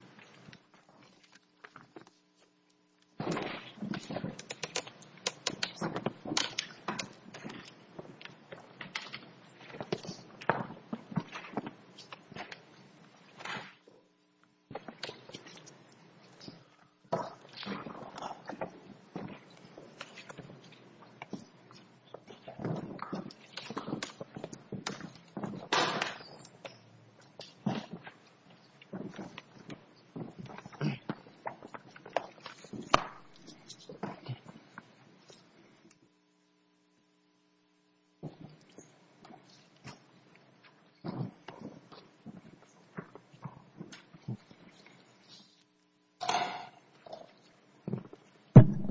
Venequip Machinery Sales Corporation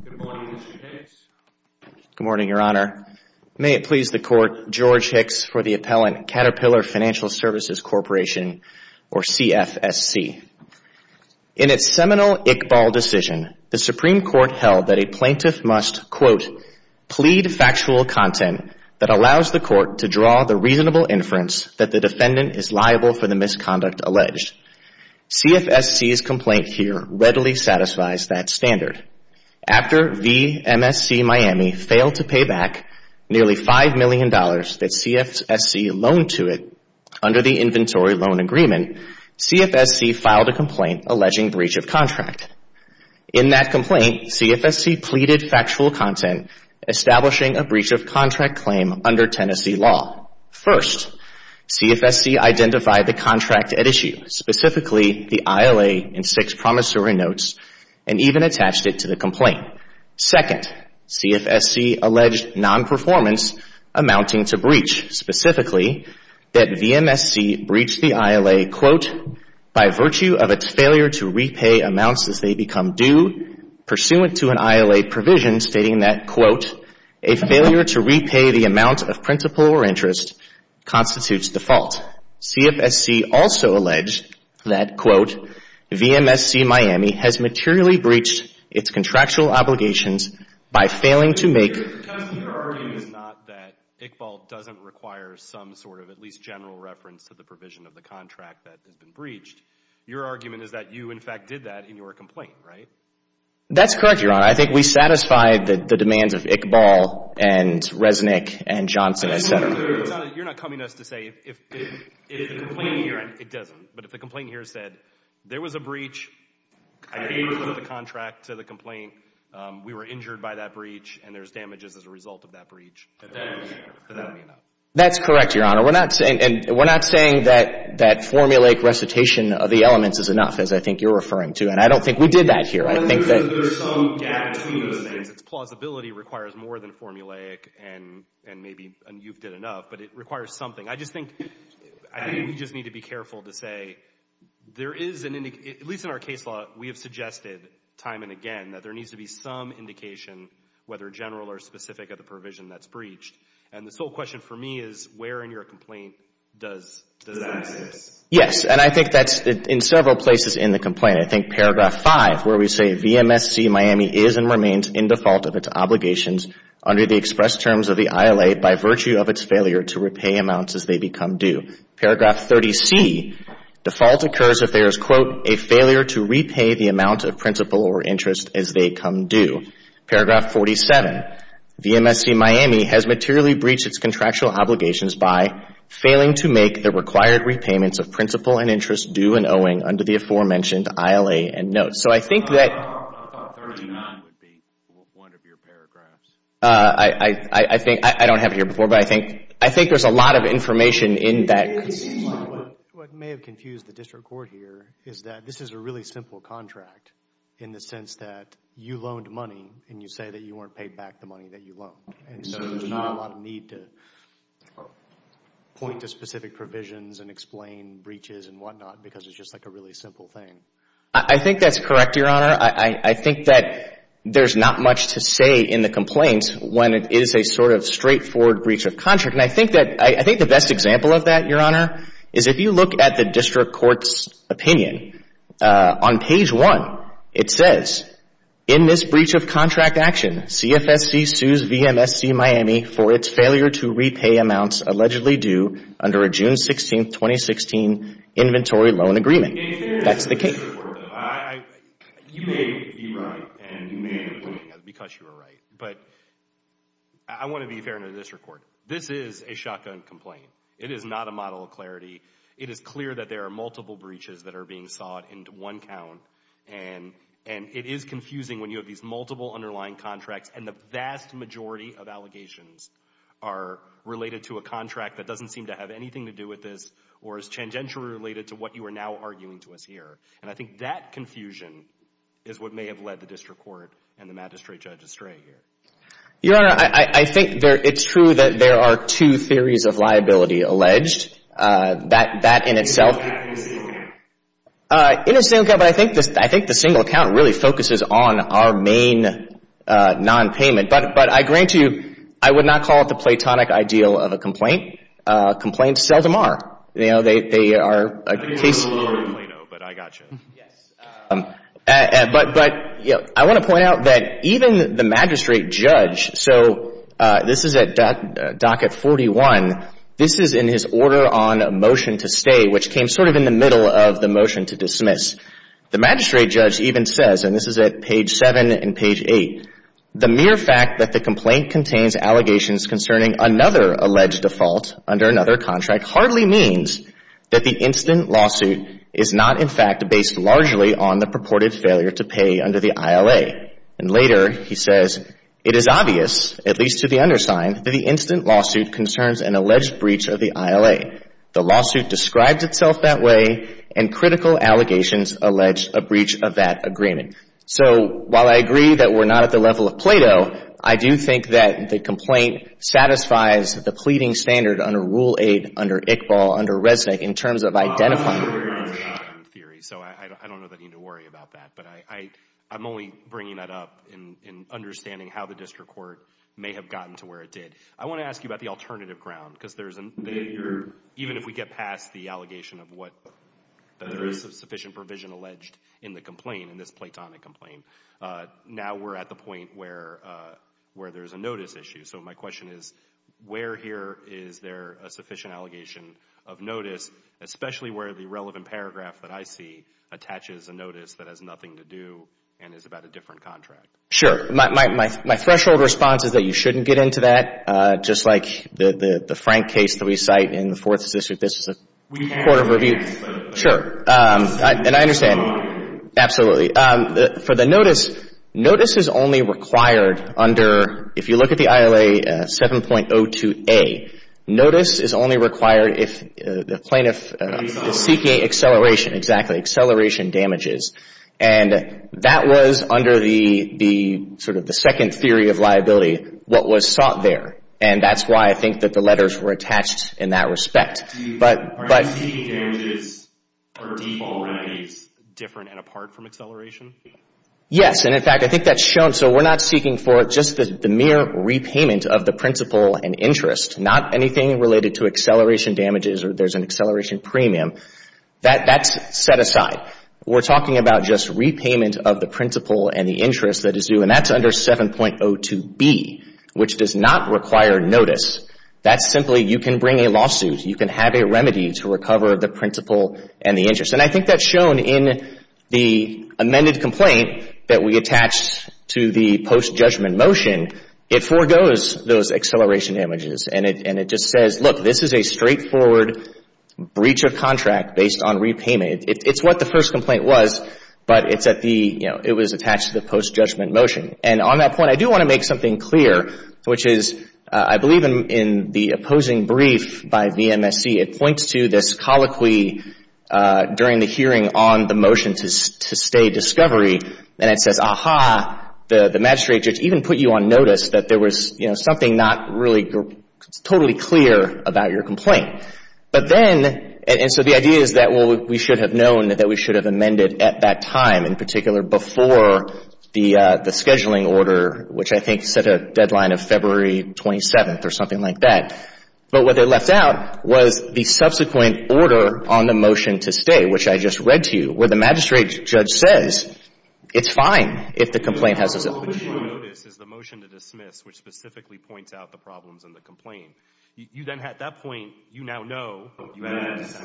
Good morning, Mr. Hicks. Good morning, Your Honor. May it please the Court, George Hicks for the appellant, Caterpillar Financial Services Corporation, or CFSC. In its seminal Iqbal decision, the Supreme Court held that a plaintiff must, quote, plead factual content that allows the court to draw the reasonable inference that the defendant is liable for the misconduct alleged. CFSC's complaint here readily satisfies that standard. After VMSC Miami failed to pay back nearly $5 million that CFSC loaned to it under the Inventory Loan Agreement, CFSC filed a complaint alleging breach of contract. In that complaint, CFSC pleaded factual content establishing a breach of contract claim under Tennessee law. First, CFSC identified the contract at issue, specifically the ILA in six promissory notes, and even attached it to the complaint. Second, CFSC alleged nonperformance amounting to breach, specifically that VMSC breached the ILA, quote, by virtue of its failure to repay amounts as they become due pursuant to an ILA provision stating that, quote, a failure to repay the amount of principal or interest constitutes default. CFSC also alleged that, quote, VMSC Miami has materially breached its contractual obligations by failing to make Because your argument is not that Iqbal doesn't require some sort of at least general reference to the provision of the contract that has been breached. Your argument is that you, in fact, did that in your complaint, right? That's correct, Your Honor. I think we satisfied the demands of Iqbal and Resnick and Johnson, You're not coming at us to say if the complaint here, it doesn't, but if the complaint here said there was a breach, I approved of the contract to the complaint, we were injured by that breach, and there's damages as a result of that breach, that would be enough. That's correct, Your Honor. We're not saying that formulaic recitation of the elements is enough, as I think you're referring to, and I don't think we did that here. I think that there's some gap between those things. It's plausibility requires more than formulaic, and maybe you've did enough, but it requires something. I just think we just need to be careful to say there is an, at least in our case law, we have suggested time and again that there needs to be some indication, whether general or specific, of the provision that's breached, and the sole question for me is where in your complaint does that exist? Yes, and I think that's in several places in the complaint. I think paragraph 5, where we say, VMSC Miami is and remains in default of its obligations under the express terms of the ILA by virtue of its failure to repay amounts as they become due. Paragraph 30C, default occurs if there is, quote, a failure to repay the amount of principal or interest as they come due. Paragraph 47, VMSC Miami has materially breached its contractual obligations by failing to make the required repayments of principal and interest due and owing under the aforementioned ILA and notes. So, I think that... I thought 39 would be one of your paragraphs. I don't have it here before, but I think there's a lot of information in that. What may have confused the district court here is that this is a really simple contract in the sense that you loaned money and you say that you weren't paid back the money that you loaned, and so there's not a lot of need to point to specific provisions and explain breaches and whatnot because it's just like a really simple thing. I think that's correct, Your Honor. I think that there's not much to say in the complaint when it is a sort of straightforward breach of contract. And I think that, I think the best example of that, Your Honor, is if you look at the district court's opinion. On page 1, it says, in this breach of contract action, CFSC sues VMSC Miami for its failure to repay amounts allegedly due under a June 16, 2016, inventory loan agreement. That's the case. You may be right, and you may be wrong, because you are right, but I want to be fair in this report. This is a shotgun complaint. It is not a model of clarity. It is clear that there are multiple breaches that are being sought into one count, and it is confusing when you have these multiple underlying contracts and the vast majority of allegations are related to a contract that doesn't seem to have anything to do with this or is tangentially related to what you are now arguing to us here. And I think that confusion is what may have led the district court and the magistrate judge astray here. Your Honor, I think it's true that there are two theories of liability alleged. That in itself — In a single account? In a single account, but I think the single account really focuses on our main nonpayment. But I grant you, I would not call it the platonic ideal of a complaint. Complaints seldom are. They are a case — I didn't know you were a complainer, but I got you. But I want to point out that even the magistrate judge — so this is at docket 41. This is in his order on a motion to stay, which came sort of in the middle of the motion to dismiss. The magistrate judge even says, and this is at page 7 and page 8, the mere fact that the complaint contains allegations concerning another alleged default under another contract hardly means that the instant lawsuit is not in fact based largely on the purported failure to pay under the ILA. And later he says, it is obvious, at least to the undersigned, that the instant lawsuit concerns an alleged breach of the ILA. The lawsuit describes itself that way, and critical allegations allege a breach of that agreement. So while I agree that we're not at the level of Plato, I do think that the complaint satisfies the pleading standard under Rule 8, under Iqbal, under Resnick, in terms of identifying — I'm not a lawyer in theory, so I don't need to worry about that. But I'm only bringing that up in understanding how the district court may have gotten to where it did. I want to ask you about the alternative ground, because there's an — even if we get past the allegation of what — that there is sufficient provision alleged in the complaint, in this platonic complaint, now we're at the point where there's a notice issue. So my question is, where here is there a sufficient allegation of notice, especially where the relevant paragraph that I see attaches a notice that has nothing to do and is about a different contract? Sure. My threshold response is that you shouldn't get into that. Just like the Frank case that we cite in the Fourth District, this is a court of review — We have that case, though. Sure. And I understand. Absolutely. For the notice, notice is only required under — if you look at the ILA 7.02a, notice is only required if the plaintiff is seeking acceleration. Exactly. Acceleration damages. And that was under the — sort of the second theory of liability, what was sought there. And that's why I think that the letters were attached in that respect. Are you seeking damages or default remedies different and apart from acceleration? Yes. And, in fact, I think that's shown. So we're not seeking for just the mere repayment of the principal and interest, not anything related to acceleration damages or there's an acceleration premium. That's set aside. We're talking about just repayment of the principal and the interest that is due. And that's under 7.02b, which does not require notice. That's simply you can bring a lawsuit, you can have a remedy to recover the principal and the interest. And I think that's shown in the amended complaint that we attached to the post-judgment motion. It forgoes those acceleration damages. And it just says, look, this is a straightforward breach of contract based on repayment. It's what the first complaint was, but it's at the — you know, it was attached to the post-judgment motion. And on that point, I do want to make something clear, which is I believe in the opposing brief by VMSC, it points to this colloquy during the hearing on the motion to stay discovery. And it says, aha, the magistrate judge even put you on notice that there was, you know, something not really totally clear about your complaint. But then — and so the idea is that, well, we should have known that we should have amended at that time, in particular before the scheduling order, which I think set a deadline of February 27th or something like that. But what they left out was the subsequent order on the motion to stay, which I just read to you, where the magistrate judge says it's fine if the complaint has a — But you put you on notice is the motion to dismiss, which specifically points out the problems in the complaint. You then, at that point, you now know — Yes.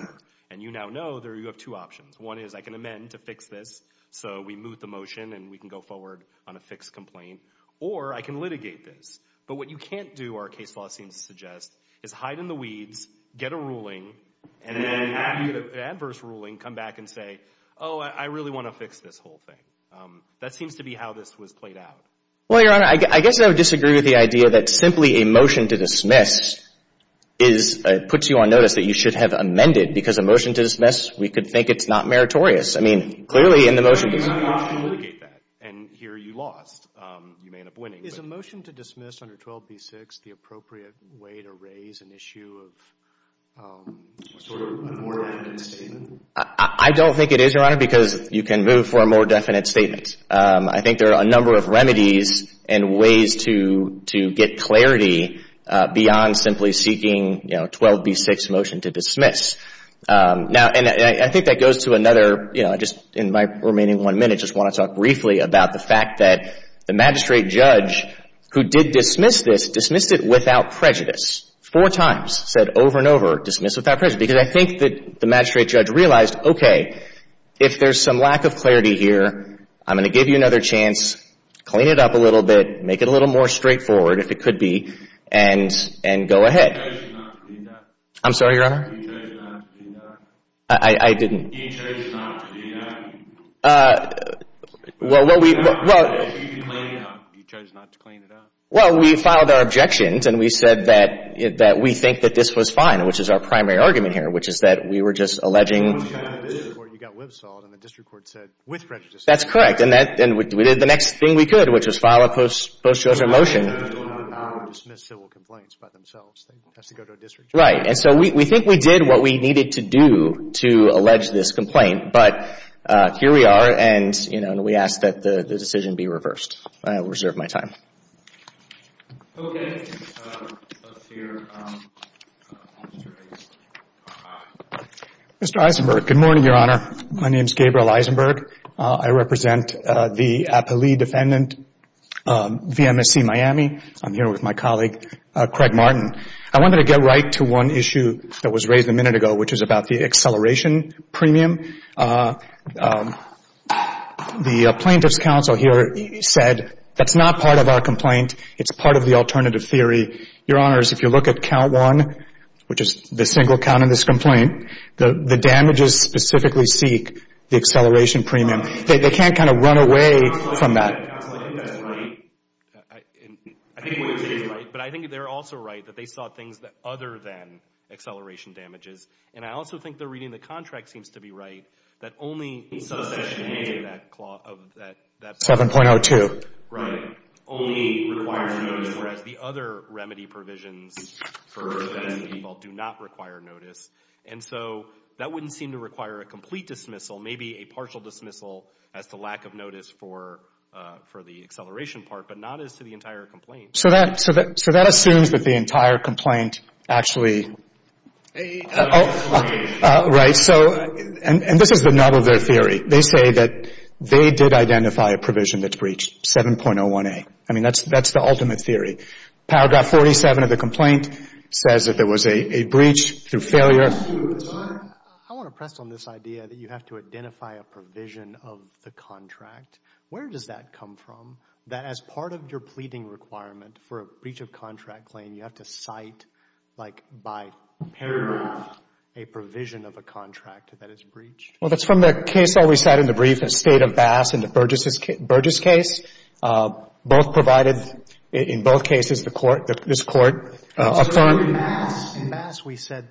And you now know that you have two options. One is I can amend to fix this, so we move the motion and we can go forward on a fixed complaint. Or I can litigate this. But what you can't do, our case law seems to suggest, is hide in the weeds, get a ruling, and then after you get an adverse ruling, come back and say, oh, I really want to fix this whole thing. That seems to be how this was played out. Well, Your Honor, I guess I would disagree with the idea that simply a motion to dismiss is — puts you on notice that you should have amended, because a motion to dismiss, we could think it's not meritorious. I mean, clearly in the motion to — You can't just litigate that. And here you lost. You may end up winning, but — Is a motion to dismiss under 12b-6 the appropriate way to raise an issue of sort of a more definite statement? I don't think it is, Your Honor, because you can move for a more definite statement. I think there are a number of remedies and ways to get clarity beyond simply seeking, you know, 12b-6 motion to dismiss. Now, and I think that goes to another, you know, just in my remaining one minute, just want to talk briefly about the fact that the magistrate judge, who did dismiss this, dismissed it without prejudice. Four times, said over and over, dismiss without prejudice. Because I think that the magistrate judge realized, okay, if there's some lack of clarity here, I'm going to give you another chance, clean it up a little bit, make it a little more straightforward, if it could be, and go ahead. You chose not to clean it up? I'm sorry, Your Honor? You chose not to clean it up? I didn't. You chose not to clean it up? Well, we — You chose not to clean it up? Well, we filed our objections, and we said that we think that this was fine, which is our primary argument here, which is that we were just alleging — You got whipsawed, and the district court said, with prejudice. That's correct. And that — and we did the next thing we could, which was file a post-judgement motion. I don't know how to dismiss civil complaints by themselves. They have to go to a district judge. Right. And so we think we did what we needed to do to allege this complaint. But here we are, and, you know, we ask that the decision be reversed. I will reserve my time. Okay. Let's hear the magistrate. Mr. Eisenberg, good morning, Your Honor. My name is Gabriel Eisenberg. I represent the appellee defendant, VMSC Miami. I'm here with my colleague, Craig Martin. I wanted to get right to one issue that was raised a minute ago, which is about the acceleration premium. The plaintiff's counsel here said that's not part of our complaint. It's part of the alternative theory. Your Honors, if you look at count one, which is the single count in this complaint, the damages specifically seek the acceleration premium. They can't kind of run away from that. I think they're also right that they saw things other than acceleration damages. And I also think they're reading the contract seems to be right, that only subsection A of that — 7.02. Right. Only requires notice, whereas the other remedy provisions for VMSC people do not require notice. And so that wouldn't seem to require a complete dismissal, maybe a partial dismissal as to lack of notice for the acceleration part, but not as to the entire complaint. So that assumes that the entire complaint actually — A — Right. So — and this is the nub of their theory. They say that they did identify a provision that's breached, 7.01A. I mean, that's the ultimate theory. Paragraph 47 of the complaint says that there was a breach through failure. Your Honor, I want to press on this idea that you have to identify a provision of the contract. Where does that come from, that as part of your pleading requirement for a breach of contract claim, you have to cite, like, by paragraph, a provision of a contract that is breached? Well, that's from the case I recited in the brief, the State of Bass and the Burgess case. Both provided — in both cases, the court — this court — So in Bass — In Bass, we said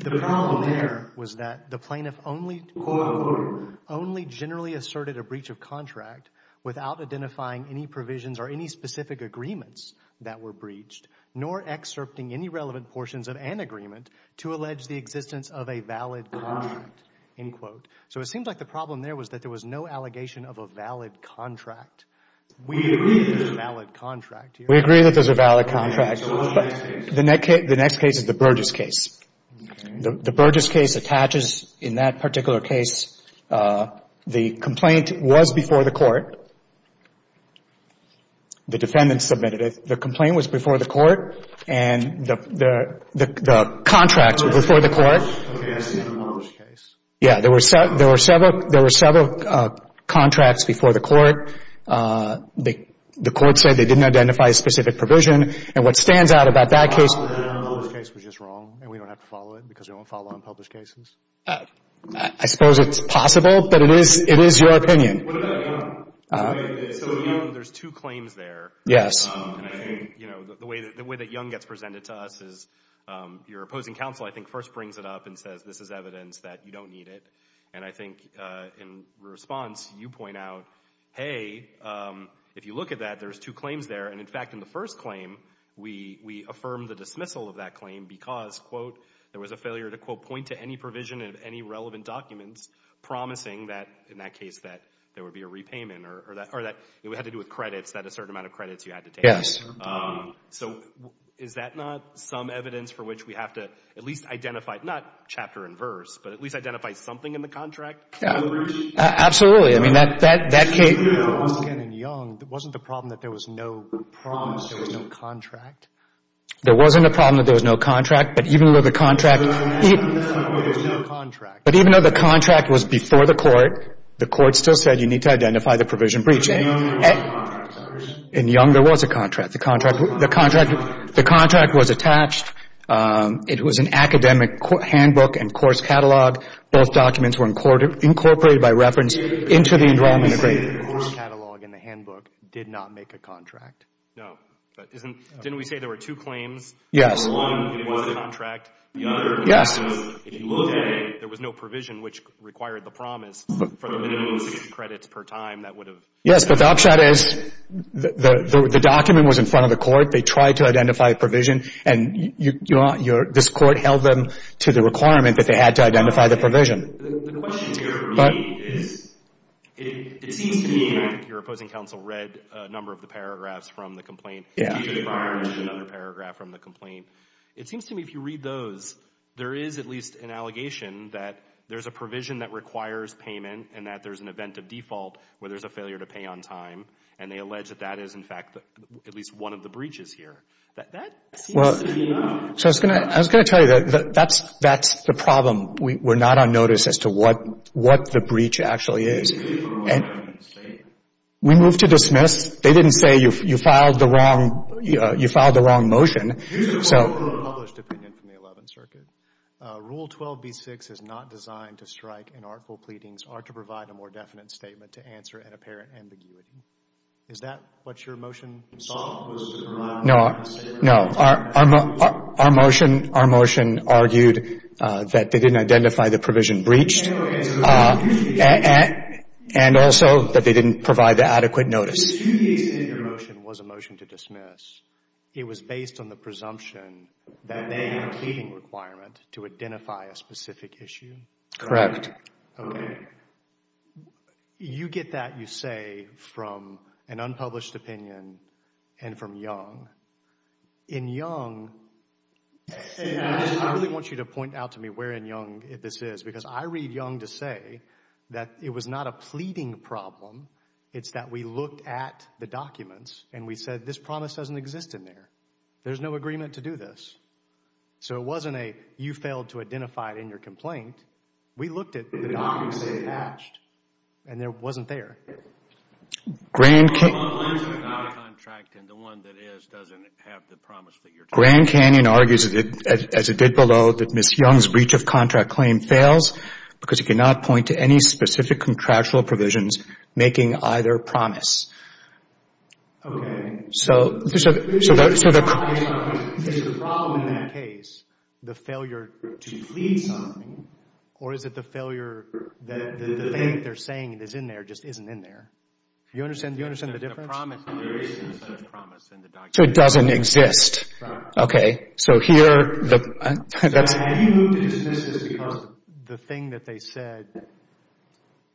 the problem there was that the plaintiff only — Court of order. Only generally asserted a breach of contract without identifying any provisions or any specific agreements that were breached, nor excerpting any relevant portions of an agreement to allege the existence of a valid contract, end quote. So it seems like the problem there was that there was no allegation of a valid contract. We agree that there's a valid contract, Your Honor. We agree that there's a valid contract, but the next case is the Burgess case. The Burgess case attaches — in that particular case, the complaint was before the court. The defendant submitted it. The complaint was before the court, and the contract was before the court. Okay. I see the Burgess case. Yeah. There were several contracts before the court. The court said they didn't identify a specific provision. And what stands out about that case — The Burgess case was just wrong, and we don't have to follow it because we don't follow on Burgess cases. I suppose it's possible, but it is your opinion. What about — so there's two claims there. Yes. You know, the way that Young gets presented to us is your opposing counsel, I think, first brings it up and says, this is evidence that you don't need it. And I think in response, you point out, hey, if you look at that, there's two claims there. And in fact, in the first claim, we affirm the dismissal of that claim because, quote, there was a failure to, quote, point to any provision of any relevant documents promising that, in that case, that there would be a repayment or that it would have to do with credits, that a certain amount of credit would have to be paid. So is that not some evidence for which we have to at least identify — not chapter and verse, but at least identify something in the contract? Yeah. Absolutely. I mean, that — that — that case — But even though it was in Young, wasn't the problem that there was no promise, there was no contract? There wasn't a problem that there was no contract, but even though the contract — But even though there was no contract — But even though the contract was before the Court, the Court still said you need to identify the provision breaching. But in Young, there was a contract, right? In Young, there was a contract. The contract — the contract — the contract was attached. It was an academic handbook and course catalog. Both documents were incorporated by reference into the Enrollment Agreements. The course catalog and the handbook did not make a contract? No. But isn't — didn't we say there were two claims? Yes. One, it was a contract. The other — Yes. If you look at it, there was no provision which required the promise for the minimum of six credits per time that would have — Yes, but the upshot is the document was in front of the Court. They tried to identify a provision, and you're — this Court held them to the requirement that they had to identify the provision. The question here for me is it seems to me — I think your opposing counsel read a number of the paragraphs from the Yeah. He did not read another paragraph from the complaint. It seems to me if you read those, there is at least an allegation that there's a provision that requires payment and that there's an event of default where there's a failure to pay on time, and they allege that that is, in fact, at least one of the breaches here. That seems to me — Well, so I was going to tell you that that's the problem. We're not on notice as to what the breach actually is. It's really for a more definite statement. We move to dismiss. They didn't say you filed the wrong — you filed the wrong motion, so — Here's a quote from a published opinion from the Eleventh Circuit. Rule 12b-6 is not designed to strike inartful pleadings or to provide a more definite statement to answer an apparent ambiguity. Is that what your motion was? No. No. Our motion argued that they didn't identify the provision breached and also that they didn't provide the adequate notice. The two cases in your motion was a motion to dismiss. It was based on the presumption that they had a pleading requirement to identify a specific issue? Correct. Okay. You get that, you say, from an unpublished opinion and from Young. In Young — I really want you to point out to me where in Young this is because I read Young to say that it was not a pleading problem. It's that we looked at the documents and we said this promise doesn't exist in there. There's no agreement to do this. So it wasn't a you failed to identify it in your documents. And it wasn't there. Grand Canyon argues, as it did below, that Ms. Young's breach of contract claim fails because it cannot point to any specific contractual provisions making either promise. Okay. So the problem in that case, the failure to plead something, or is it the failure that the thing they're saying that's in there just isn't in there? Do you understand the difference? The promise in the documents. So it doesn't exist. Okay. So here, that's — Have you moved to dismiss this because the thing that they said,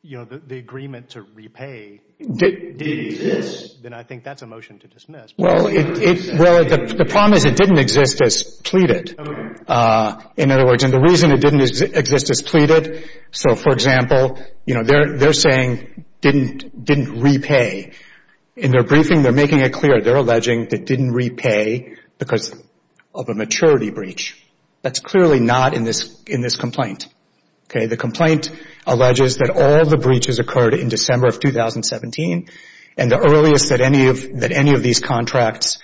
you know, the agreement to repay didn't exist? Then I think that's a motion to dismiss. Well, the problem is it didn't exist as pleaded. In other words, and the reason it didn't exist as pleaded — so, for example, you know, they're saying didn't repay. In their briefing, they're making it clear, they're alleging they didn't repay because of a maturity breach. That's clearly not in this complaint. Okay? The complaint alleges that all the breaches occurred in December of 2017, and the earliest that any of these contracts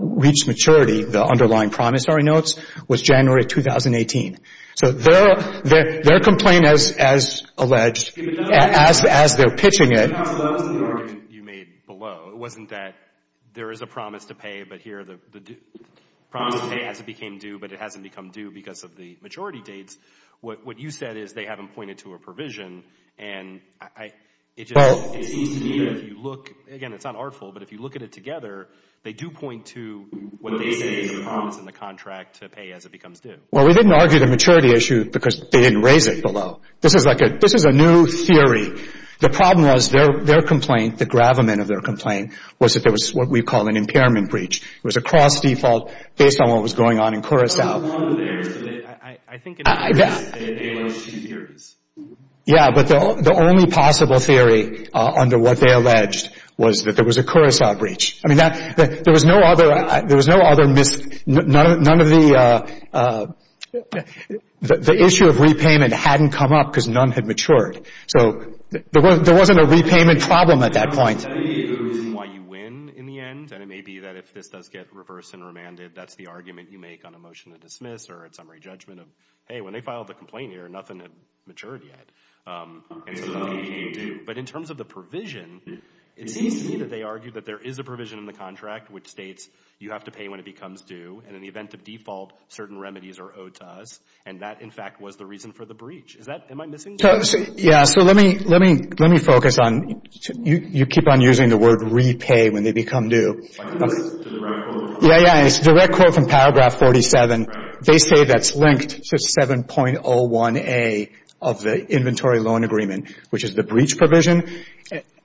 reached maturity, the underlying promissory notes, was January 2018. So their complaint, as alleged, as they're pitching it — No, that wasn't the argument you made below. It wasn't that there is a promise to pay, but here the promise to pay has became due, but it hasn't become due because of the majority dates. What you said is they haven't pointed to a provision, and it seems to me that if you look — again, it's not artful, but if you look at it together, they do point to what they say is a promise in the contract to pay as it becomes due. Well, we didn't argue the maturity issue because they didn't raise it below. This is like a — this is a new theory. The problem was their complaint, the gravamen of their complaint, was that there was what we call an impairment breach. It was a cross-default based on what was going on in Curaçao. I think it is. Yeah, but the only possible theory under what they alleged was that there was a Curaçao breach. I mean, that — there was no other — there was no other mis — none of the — the issue of repayment hadn't come up because none had matured. So there wasn't a repayment problem at that point. That may be the reason why you win in the end, and it may be that if this does get reversed and remanded, that's the argument you make on a motion to dismiss or a summary judgment of, hey, when they filed the complaint here, nothing had matured yet. But in terms of the provision, it seems to me that they argue that there is a provision in the contract which states you have to pay when it becomes due. And in the event of default, certain remedies are owed to us. And that, in fact, was the reason for the breach. Is that — am I missing something? Yeah, so let me — let me — let me focus on — you keep on using the word repay when they become due. I think that's the direct quote from paragraph 47. Yeah, yeah, and it's a direct quote from paragraph 47. They say that's linked to 7.01A of the inventory loan agreement, which is the breach provision.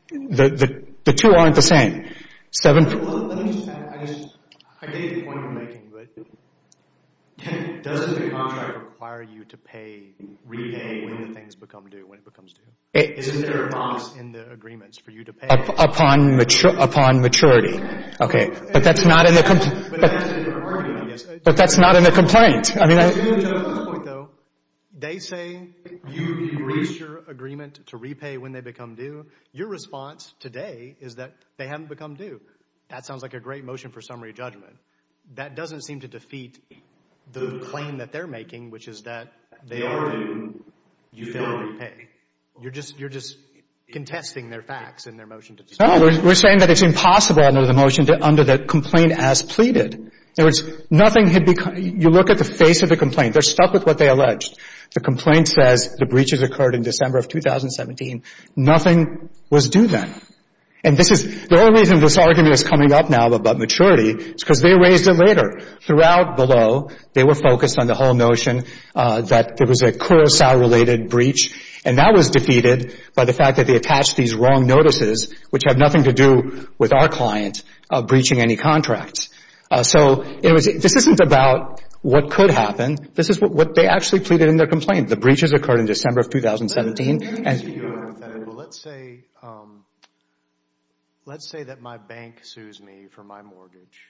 The — the two aren't the same. Seven — Let me just — I just — I get your point you're making, but doesn't the contract require you to pay repay when things become due, when it becomes due? Isn't there a box in the agreements for you to pay? Upon — upon maturity. Okay, but that's not in the — But that's in the argument, I guess. But that's not in the complaint. I mean — To your judgmental point, though, they say you breach your agreement to repay when they become due. Your response today is that they haven't become due. That sounds like a great motion for summary judgment. That doesn't seem to defeat the claim that they're making, which is that they are due, you fail to repay. You're just — you're just contesting their facts in their motion. We're saying that it's impossible under the motion to — under the complaint as pleaded. In other words, nothing had become — you look at the face of the complaint. They're stuck with what they alleged. The complaint says the breaches occurred in December of 2017. Nothing was due then. And this is — the only reason this argument is coming up now about maturity is because they raised it later. Throughout below, they were focused on the whole notion that there was a Curaçao-related breach, and that was defeated by the fact that they attached these wrong notices, which have nothing to do with our client breaching any contracts. So it was — this isn't about what could happen. This is what they actually pleaded in their complaint. The breaches occurred in December of 2017, and — Let me ask you a hypothetical. Let's say — let's say that my bank sues me for my mortgage,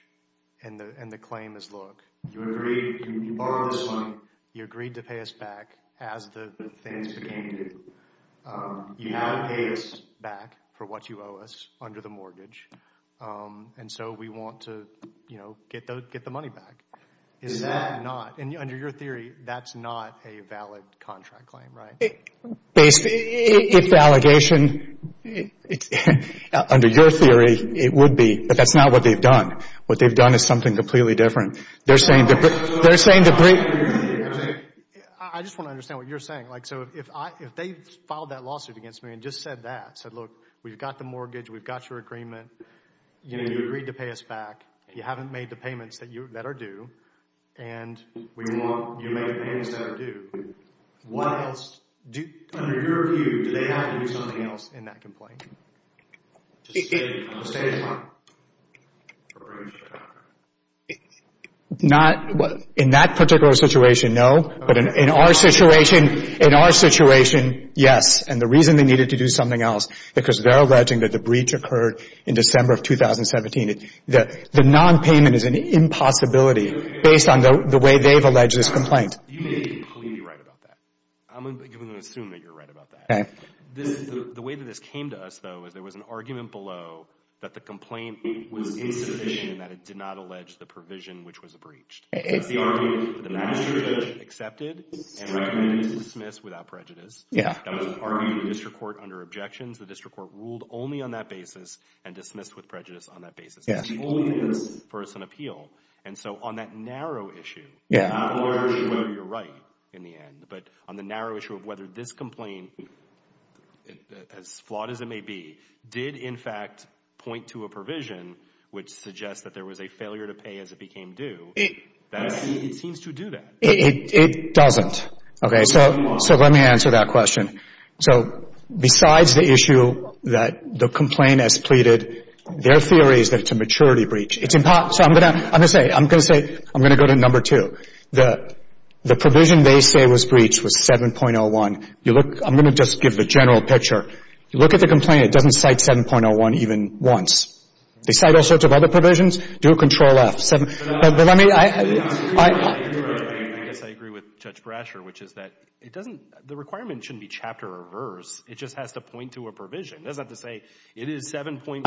and the claim is, look, you agreed — you borrowed this money, you agreed to pay us back as the things became due. You now have to pay us back for what you owe us under the mortgage. And so we want to, you know, get the money back. Is that not — and under your theory, that's not a valid contract claim, right? Basically, if the allegation — under your theory, it would be, but that's not what they've done. What they've done is something completely different. They're saying the — they're saying the — I just want to understand what you're saying. Like, so if I — if they filed that lawsuit against me and just said that, said, look, we've got the mortgage, we've got your agreement, you know, you agreed to pay us back, you haven't made the payments that are due, and we want — you made the payments that are due, what else do — Under your view, do they have to do something else in that complaint? Just stay on the stage, Mark. Not — in that particular situation, no. But in our situation — in our situation, yes. And the reason they needed to do something else, because they're alleging that the breach occurred in December of 2017, the nonpayment is an impossibility based on the way they've alleged this complaint. You may be completely right about that. I'm going to assume that you're right about that. Okay. This — the way that this came to us, though, is there was an argument below that the complaint was insufficient and that it did not allege the provision which was breached. Okay. The argument is that the magistrate accepted and recommended it to dismiss without prejudice. Yeah. That was an argument in the district court under objections. The district court ruled only on that basis and dismissed with prejudice on that basis. Yes. It's the only way this person appealed. And so on that narrow issue — Yeah. Not a large issue whether you're right in the end, but on the narrow issue of whether this complaint, as flawed as it may be, did, in fact, point to a provision which suggests that there was a failure to pay as it became due, it seems to do that. It doesn't. Okay. So let me answer that question. So besides the issue that the complaint has pleaded, their theory is that it's a maturity breach. It's impossible — so I'm going to say — I'm going to say — I'm going to go to two. The provision they say was breached was 7.01. You look — I'm going to just give the general picture. You look at the complaint. It doesn't cite 7.01 even once. They cite all sorts of other provisions. Do a Control-F. No. But let me — I — I guess I agree with Judge Brasher, which is that it doesn't — the requirement shouldn't be chapter or verse. It just has to point to a provision. It doesn't have to say, it is 7.03.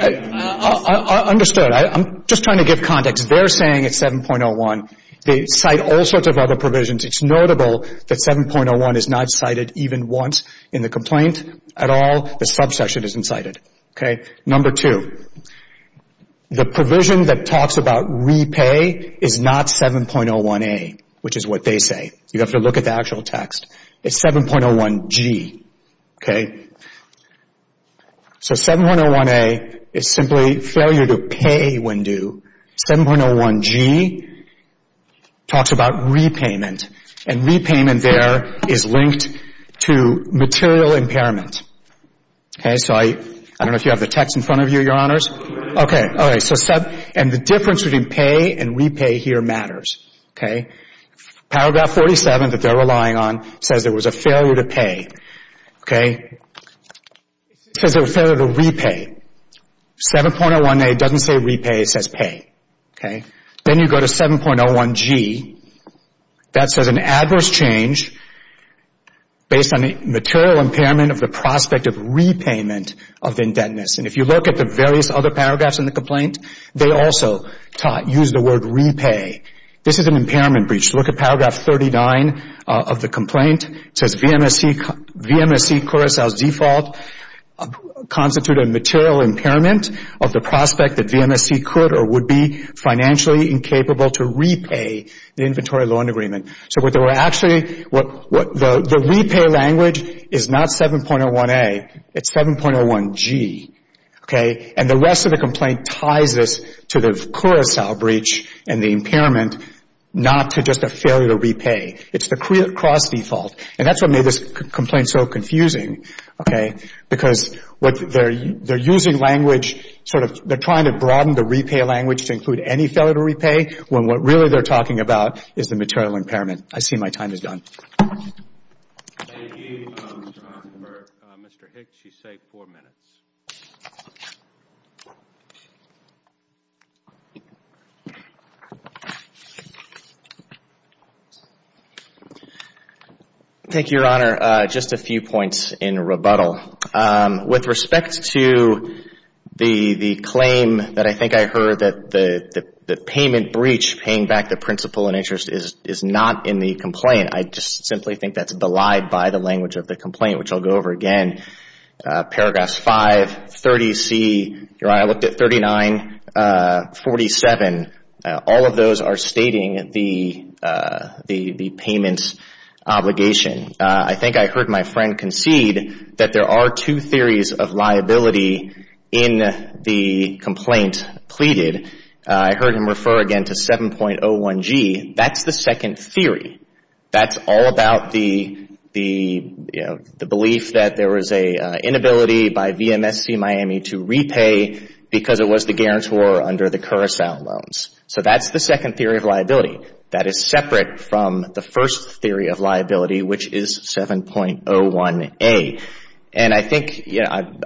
I understood. I'm just trying to give context. They're saying it's 7.01. They cite all sorts of other provisions. It's notable that 7.01 is not cited even once in the complaint at all. The subsection isn't cited. Okay. Number two, the provision that talks about repay is not 7.01a, which is what they say. You have to look at the actual text. It's 7.01g. Okay. So 7.01a is simply failure to pay when due. 7.01g talks about repayment, and repayment there is linked to material impairment. Okay. So I — I don't know if you have the text in front of you, Your Honors. Okay. All right. So — and the difference between pay and repay here matters. Okay. Paragraph 47 that they're relying on says there was a failure to pay. Okay. It says there was failure to repay. 7.01a doesn't say repay. It says pay. Okay. Then you go to 7.01g. That says an adverse change based on the material impairment of the prospect of repayment of indebtedness. And if you look at the various other paragraphs in the complaint, they also use the word repay. This is an impairment breach. Look at paragraph 39 of the complaint. It says VMSC — VMSC Curaçao's default constituted a material impairment of the prospect that VMSC could or would be financially incapable to repay the inventory loan agreement. So what they were actually — the repay language is not 7.01a. It's 7.01g. Okay. And the rest of the complaint ties us to the Curaçao breach and the impairment, not to just a failure to repay. It's the cross default. And that's what made this complaint so confusing. Okay. Because what they're — they're using language sort of — they're trying to broaden the repay language to include any failure to repay when what really they're talking about is the material impairment. I see my time is done. Thank you, Mr. Osborne. For Mr. Hicks, you say four minutes. Thank you, Your Honor. Just a few points in rebuttal. With respect to the claim that I think I heard that the payment breach, paying back the principal in interest, is not in the complaint, I just simply think that's belied by the language of the complaint, which I'll go over again. Paragraphs 5, 30c. Your Honor, I looked at 39, 47. All of those are stating the payment's obligation. I think I heard my friend concede that there are two theories of liability in the complaint pleaded. I heard him refer again to 7.01g. That's the second theory. That's all about the, you know, the belief that there was an inability by VMSC Miami to repay because it was the guarantor under the Curacao loans. So that's the second theory of liability. That is separate from the first theory of liability, which is 7.01a. And I think,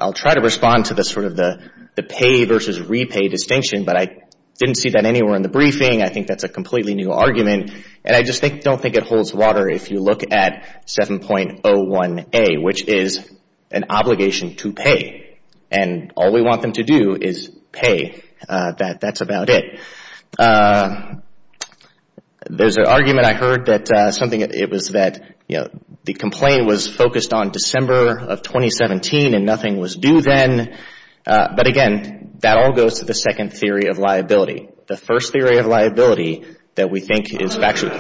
I'll try to respond to the sort of the pay versus repay distinction, but I didn't see that anywhere in the briefing. I think that's a completely new argument. And I just don't think it holds water if you look at 7.01a, which is an obligation to pay. And all we want them to do is pay. That's about it. There's an argument I heard that something, it was that, you know, the complaint was focused on December of 2017 and nothing was due then. But again, that all goes to the second theory of liability. The first theory of liability that we think is factual.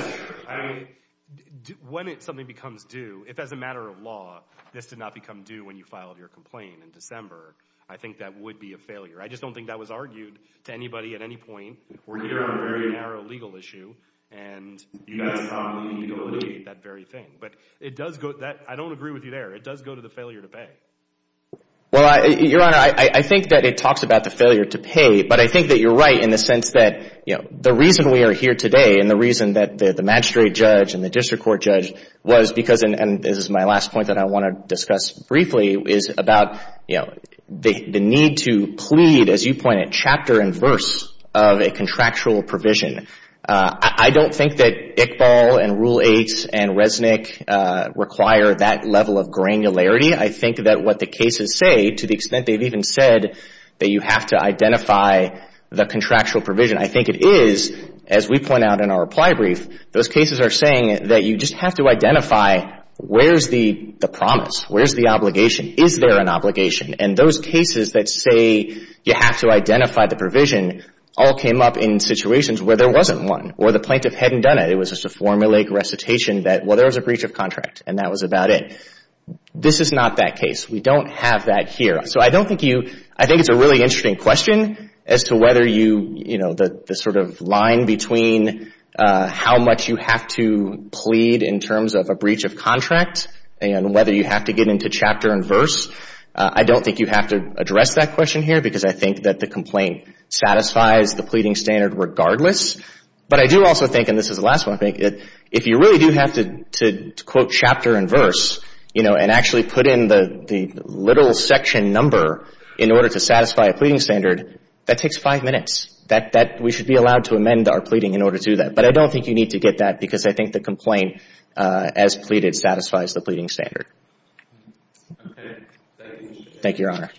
When something becomes due, if as a matter of law, this did not become due when you filed your complaint in December, I think that would be a failure. I just don't think that was argued to anybody at any point. We're here on a very narrow legal issue. And you guys probably need to alleviate that very But it does go, I don't agree with you there. It does go to the failure to pay. Well, Your Honor, I think that it talks about the failure to pay, but I think that you're right in the sense that, you know, the reason we are here today and the reason that the magistrate judge and the district court judge was because, and this is my last point that I want to discuss briefly, is about, you know, the need to plead, as you pointed, chapter and verse of a contractual provision. I don't think that Iqbal and Rule 8 and Resnick require that level of granularity. I think that what the cases say, to the extent they've even said that you have to identify the contractual provision, I think it is, as we point out in our reply brief, those cases are saying that you just have to identify where's the promise, where's the obligation, is there an obligation. And those cases that say you have to identify the provision all came up in situations where there wasn't one or the plaintiff hadn't done it. It was just a formulaic recitation that, well, there was a breach of contract and that was about it. This is not that case. We don't have that here. So I don't think you, I think it's a really interesting question as to whether you, you know, the sort of line between how much you have to plead in terms of a breach of contract and whether you have to get into chapter and verse. I don't think you have to address that question here because I think that the complaint satisfies the pleading standard regardless. But I do also think, and this is the last one, I think, if you really do have to quote chapter and verse, you know, and actually put in the literal section number in order to satisfy a pleading standard, that takes five minutes. That we should be allowed to amend our pleading in order to do that. But I don't think you need to get that because I think the complaint as pleaded satisfies the pleading standard. Thank you, Your Honor.